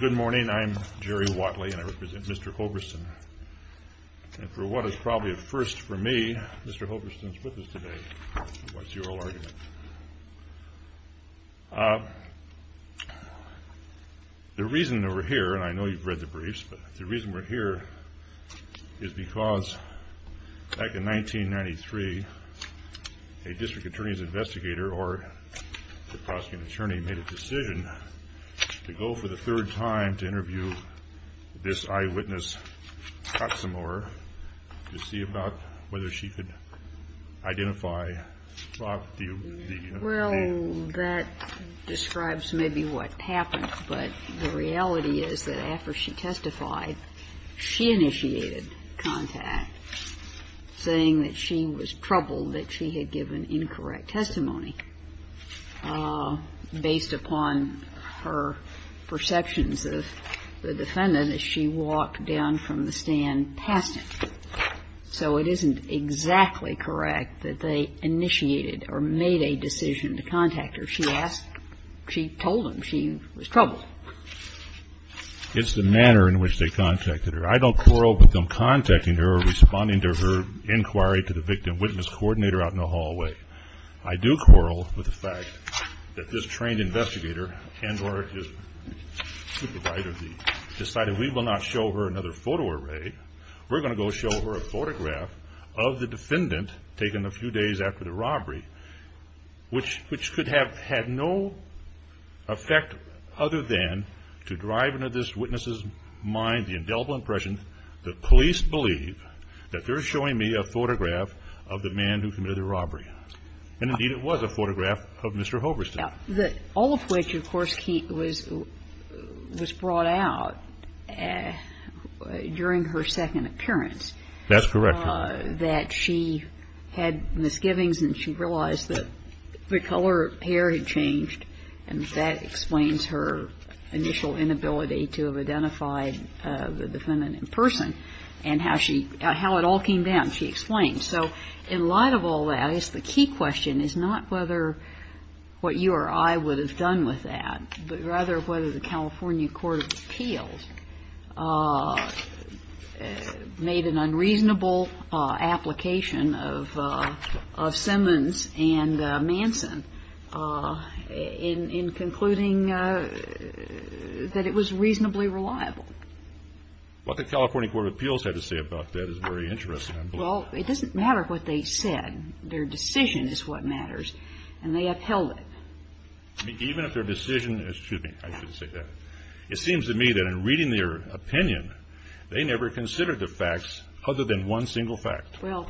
Good morning, I am Jerry Watley, and I represent Mr. Hoverstein. And for what is probably a first for me, Mr. Hoverstein is with us today. What's your argument? The reason that we're here, and I know you've read the briefs, but the reason we're here is because back in 1993, a district attorney's investigator or the prosecutor's attorney made a decision to go for the third time to interview this eyewitness Toxemore to see about whether she could identify Fox, the U.S. Navy. And that describes maybe what happened, but the reality is that after she testified, she initiated contact, saying that she was troubled, that she had given incorrect testimony based upon her perceptions of the defendant as she walked down from the stand past him. So it isn't exactly correct that they initiated or made a decision to contact her. She asked, she told him she was troubled. HOVERSTEIN It's the manner in which they contacted her. I don't quarrel with them contacting her or responding to her inquiry to the victim witness coordinator out in the hallway. I do quarrel with the fact that this trained investigator and or his supervisor decided we will not show her another photo array. We're going to go show her a photograph of the defendant taken a few days after the robbery, which could have had no effect other than to drive into this witness's mind the indelible impression that police believe that they're showing me a photograph of the man who committed the robbery. And indeed it was a photograph of Mr. Hoverstein. KAGAN All of which, of course, was brought out during her second appearance. HOVERSTEIN That's correct. KAGAN That she had misgivings and she realized that the color of her hair had changed and that explains her initial inability to have identified the defendant in person and how it all came down, she explained. So in light of all that, the key question is not whether what you or I would have done with that, but rather whether the California Court of Appeals made an unreasonable application of Simmons and Manson in concluding that it was reasonably reliable. HOVERSTEIN What the California Court of Appeals had to say about that is very interesting, I believe. KAGAN Well, it doesn't matter what they said. Their decision is what matters. And they upheld it. HOVERSTEIN Even if their decision is, excuse me, I should say that. It seems to me that in reading their opinion, they never considered the facts other than one single fact. KAGAN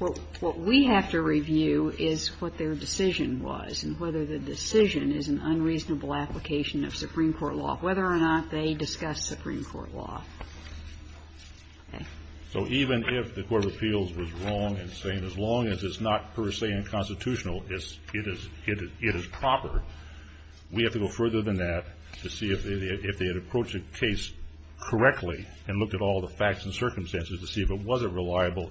Well, what we have to review is what their decision was and whether the decision is an unreasonable application of Supreme Court law, whether or not they discussed Supreme Court law. So even if the Court of Appeals was wrong in saying as long as it's not per se unconstitutional, it is proper, we have to go further than that to see if they had approached the case correctly and looked at all the facts and circumstances to see if it was a reliable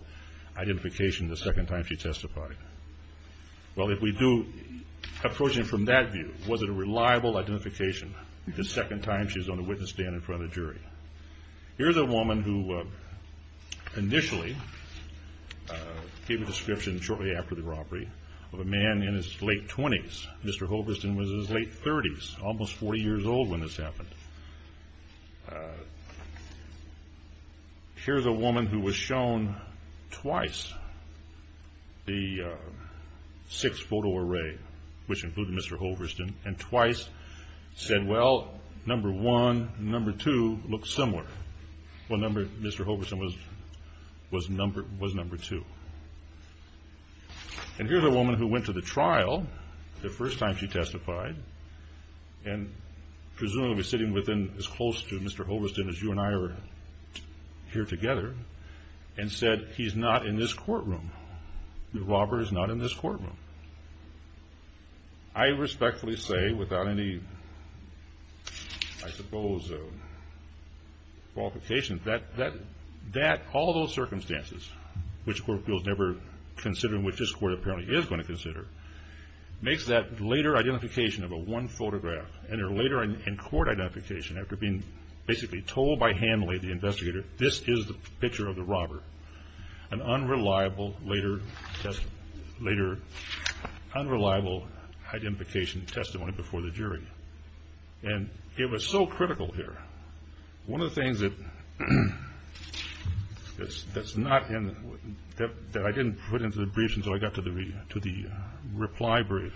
identification the second time she testified. Well, if we do approach it from that view, was it a reliable identification the second time she was on the witness stand in front of the jury? Here's a woman who initially gave a description shortly after the robbery of a man in his late 20s. Mr. Hoverstein was in his late 30s, almost 40 years old when this happened. Here's a woman who was shown twice the six photo array, which included Mr. Hoverstein, and twice said, well, number one and number two look similar. Well, Mr. Hoverstein was number two. And here's a woman who went to the trial the first time she testified and presumably sitting within as close to Mr. Hoverstein as you and I are here together and said, he's not in this courtroom. The robber is not in this courtroom. I respectfully say, without any, I suppose, qualifications, that all those circumstances, which the court feels never considering which this court apparently is going to consider, makes that later identification of a one photograph and her later in court identification after being basically told by Hanley, the investigator, this is the picture of the robber, an unreliable later identification testimony before the jury. And it was so critical here. One of the things that I didn't put into the briefs until I got to the reply brief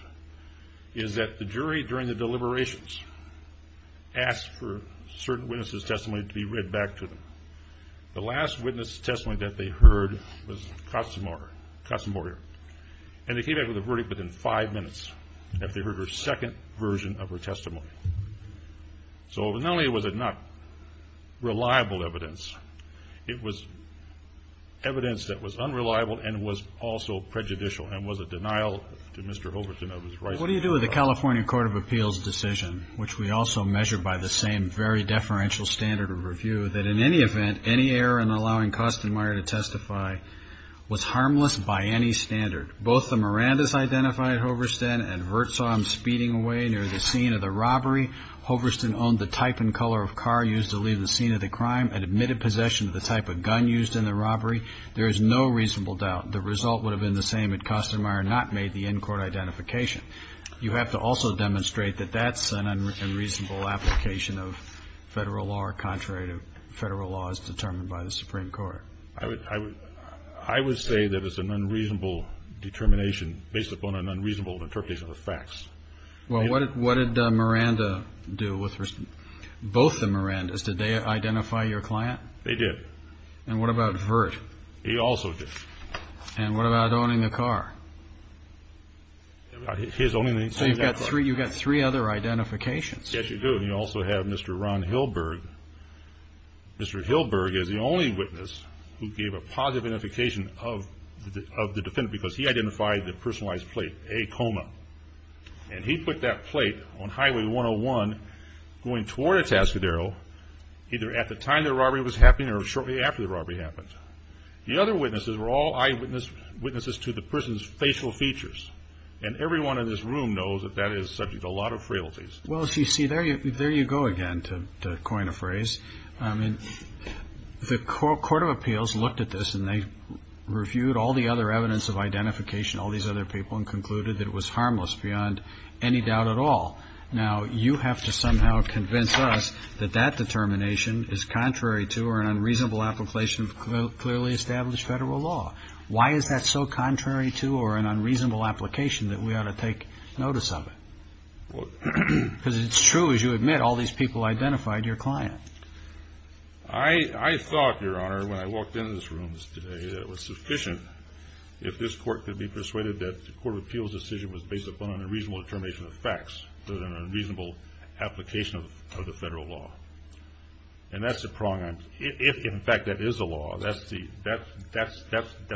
is that the jury during the deliberations asked for certain witnesses' testimony to be read back to them. The last witness' testimony that they heard was Costamoria. And they came back with a verdict within five minutes after they heard her second version of her testimony. So not only was it not reliable evidence, it was evidence that was unreliable and was also prejudicial and was a denial to Mr. Hoverstein of his rights. What do you do with the California Court of Appeals decision, which we also measure by the same very deferential standard of review, that in any event, any error in allowing Costamoria to testify was harmless by any standard? Both the Mirandas identified at Hoverstein and Vert saw him speeding away near the scene of the robbery. Hoverstein owned the type and color of car used to leave the scene of the crime and admitted possession of the type of gun used in the robbery. There is no reasonable doubt the result would have been the same had Costamoria not made the in-court identification. You have to also demonstrate that that's an unreasonable application of federal law, contrary to federal laws determined by the Supreme Court. I would say that it's an unreasonable determination based upon an unreasonable interpretation of the facts. Well, what did Miranda do with both the Mirandas? Did they identify your client? They did. And what about Vert? He also did. And what about owning the car? So you've got three other identifications. Yes, you do. And you also have Mr. Ron Hilberg. Mr. Hilberg is the only witness who gave a positive identification of the defendant because he identified the personalized plate, a coma. And he put that plate on Highway 101 going toward Atascadero either at the time the robbery was happening or shortly after the robbery happened. The other witnesses were all eyewitnesses to the person's facial features. And everyone in this room knows that that is subject to a lot of frailties. Well, as you see, there you go again, to coin a phrase. I mean, the Court of Appeals looked at this, and they reviewed all the other evidence of identification, all these other people, and concluded that it was harmless beyond any doubt at all. Now, you have to somehow convince us that that determination is contrary to or an unreasonable application of clearly established federal law. Why is that so contrary to or an unreasonable application that we ought to take notice of it? Because it's true, as you admit, all these people identified your client. I thought, Your Honor, when I walked into this room today, if this Court could be persuaded that the Court of Appeals' decision was based upon an unreasonable determination of facts rather than an unreasonable application of the federal law. And that's the prong I'm – if, in fact, that is the law, that's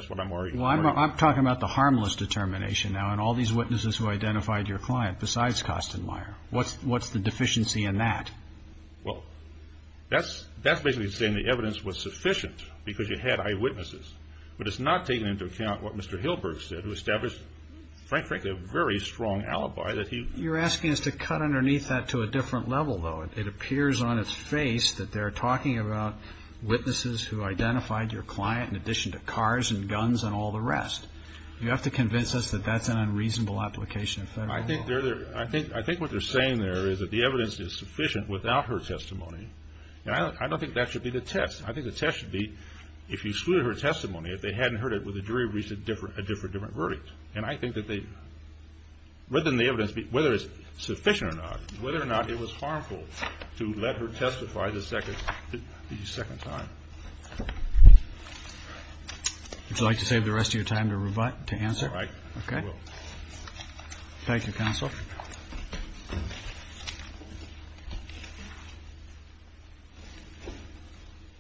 what I'm arguing. Well, I'm talking about the harmless determination now, and all these witnesses who identified your client besides Kastenmeier. What's the deficiency in that? Well, that's basically saying the evidence was sufficient because you had eyewitnesses. But it's not taking into account what Mr. Hilberg said, who established, frankly, a very strong alibi that he – You're asking us to cut underneath that to a different level, though. It appears on its face that they're talking about witnesses who identified your client in addition to cars and guns and all the rest. You have to convince us that that's an unreasonable application of federal law. I think they're – I think what they're saying there is that the evidence is sufficient without her testimony. And I don't think that should be the test. I think the test should be if you excluded her testimony, if they hadn't heard it, would the jury have reached a different verdict? And I think that they – rather than the evidence, whether it's sufficient or not, whether or not it was harmful to let her testify the second time. Would you like to save the rest of your time to answer? All right. Okay. Thank you, counsel.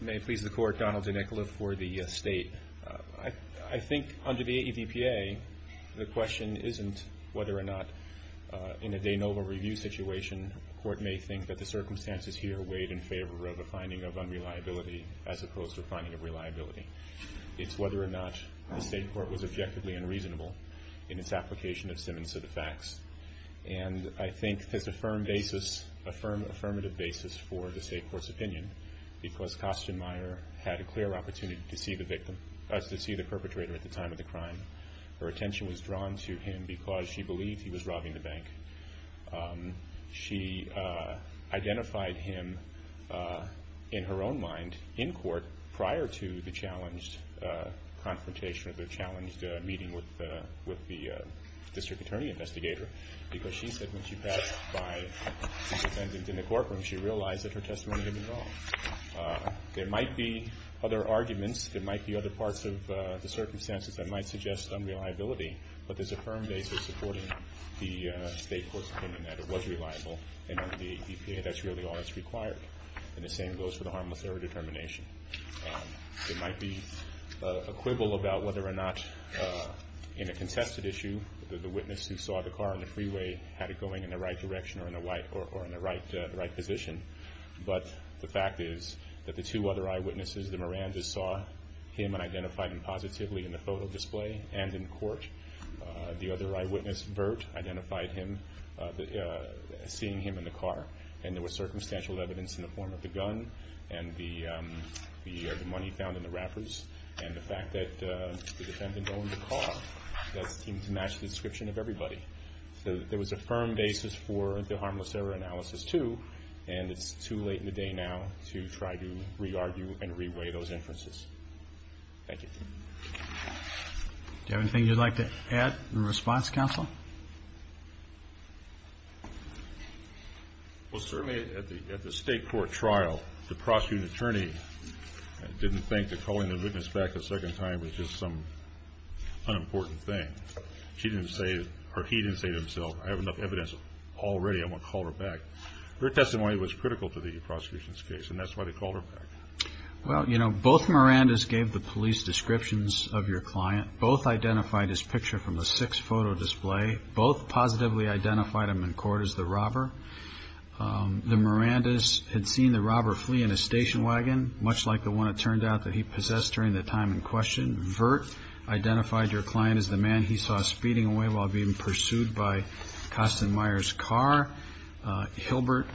May it please the Court, Donald DeNicola for the State. I think under the AEVPA, the question isn't whether or not in a de novo review situation the Court may think that the circumstances here weighed in favor of a finding of unreliability as opposed to a finding of reliability. It's whether or not the State Court was objectively unreasonable in its application of Simmons to the facts. And I think there's a firm basis, a firm affirmative basis for the State Court's opinion because Kostenmeier had a clear opportunity to see the victim – to see the perpetrator at the time of the crime. Her attention was drawn to him because she believed he was robbing the bank. She identified him in her own mind in court prior to the challenged confrontation or the challenged meeting with the district attorney investigator because she said when she passed by the defendant in the courtroom, she realized that her testimony had been wrong. There might be other arguments. There might be other parts of the circumstances that might suggest unreliability, but there's a firm basis supporting the State Court's opinion that it was reliable and under the AEVPA that's really all that's required. And the same goes for the harmless error determination. There might be a quibble about whether or not in a contested issue the witness who saw the car on the freeway had it going in the right direction or in the right position, but the fact is that the two other eyewitnesses, the Miranda's saw him and identified him positively in the photo display and in court. The other eyewitness, Burt, identified seeing him in the car and there was circumstantial evidence in the form of the gun and the money found in the wrappers and the fact that the defendant owned the car. That seemed to match the description of everybody. So there was a firm basis for the harmless error analysis too and it's too late in the day now to try to re-argue and re-weigh those inferences. Thank you. Do you have anything you'd like to add in response, Counsel? Well, certainly at the State Court trial, the prosecuting attorney didn't think that calling the witness back a second time was just some unimportant thing. He didn't say to himself, I have enough evidence already, I'm going to call her back. But Burt's testimony was critical to the prosecution's case and that's why they called her back. Well, you know, both Mirandas gave the police descriptions of your client. Both identified his picture from the sixth photo display. Both positively identified him in court as the robber. The Mirandas had seen the robber flee in a station wagon, much like the one it turned out that he possessed during the time in question. Burt identified your client as the man he saw speeding away while being pursued by Kastenmeier's car. Hilbert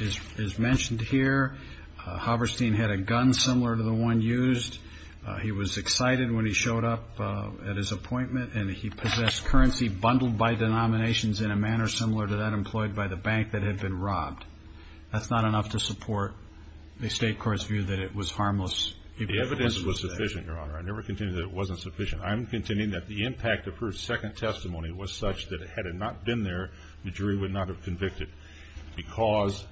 is mentioned here. Haberstein had a gun similar to the one used. He was excited when he showed up at his appointment and he possessed currency bundled by denominations in a manner similar to that employed by the bank that had been robbed. That's not enough to support the State Court's view that it was harmless. The evidence was sufficient, Your Honor. I never continued that it wasn't sufficient. I'm continuing that the impact of her second testimony was such that had it not been there, the jury would not have convicted. Because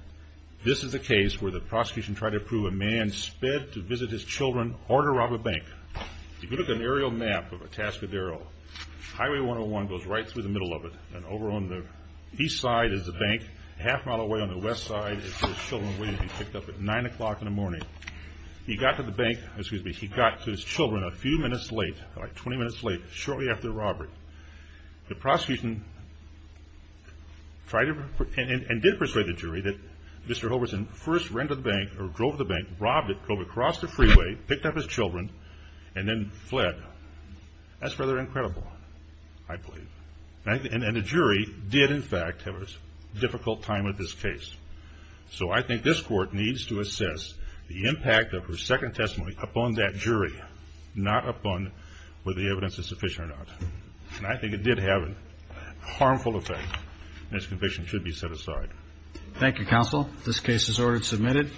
this is a case where the prosecution tried to prove a man sped to visit his children or to rob a bank. If you look at an aerial map of Atascadero, Highway 101 goes right through the middle of it and over on the east side is the bank. Half a mile away on the west side is where his children were waiting to be picked up at 9 o'clock in the morning. He got to the bank, excuse me, he got to his children a few minutes late, about 20 minutes late, shortly after the robbery. The prosecution tried and did persuade the jury that Mr. Hoverson first ran to the bank or drove to the bank, robbed it, drove across the freeway, picked up his children, and then fled. That's rather incredible, I believe. And the jury did, in fact, have a difficult time with this case. So I think this Court needs to assess the impact of her second testimony upon that jury, not upon whether the evidence is sufficient or not. And I think it did have a harmful effect, and this conviction should be set aside. Thank you, Counsel. This case is ordered and submitted.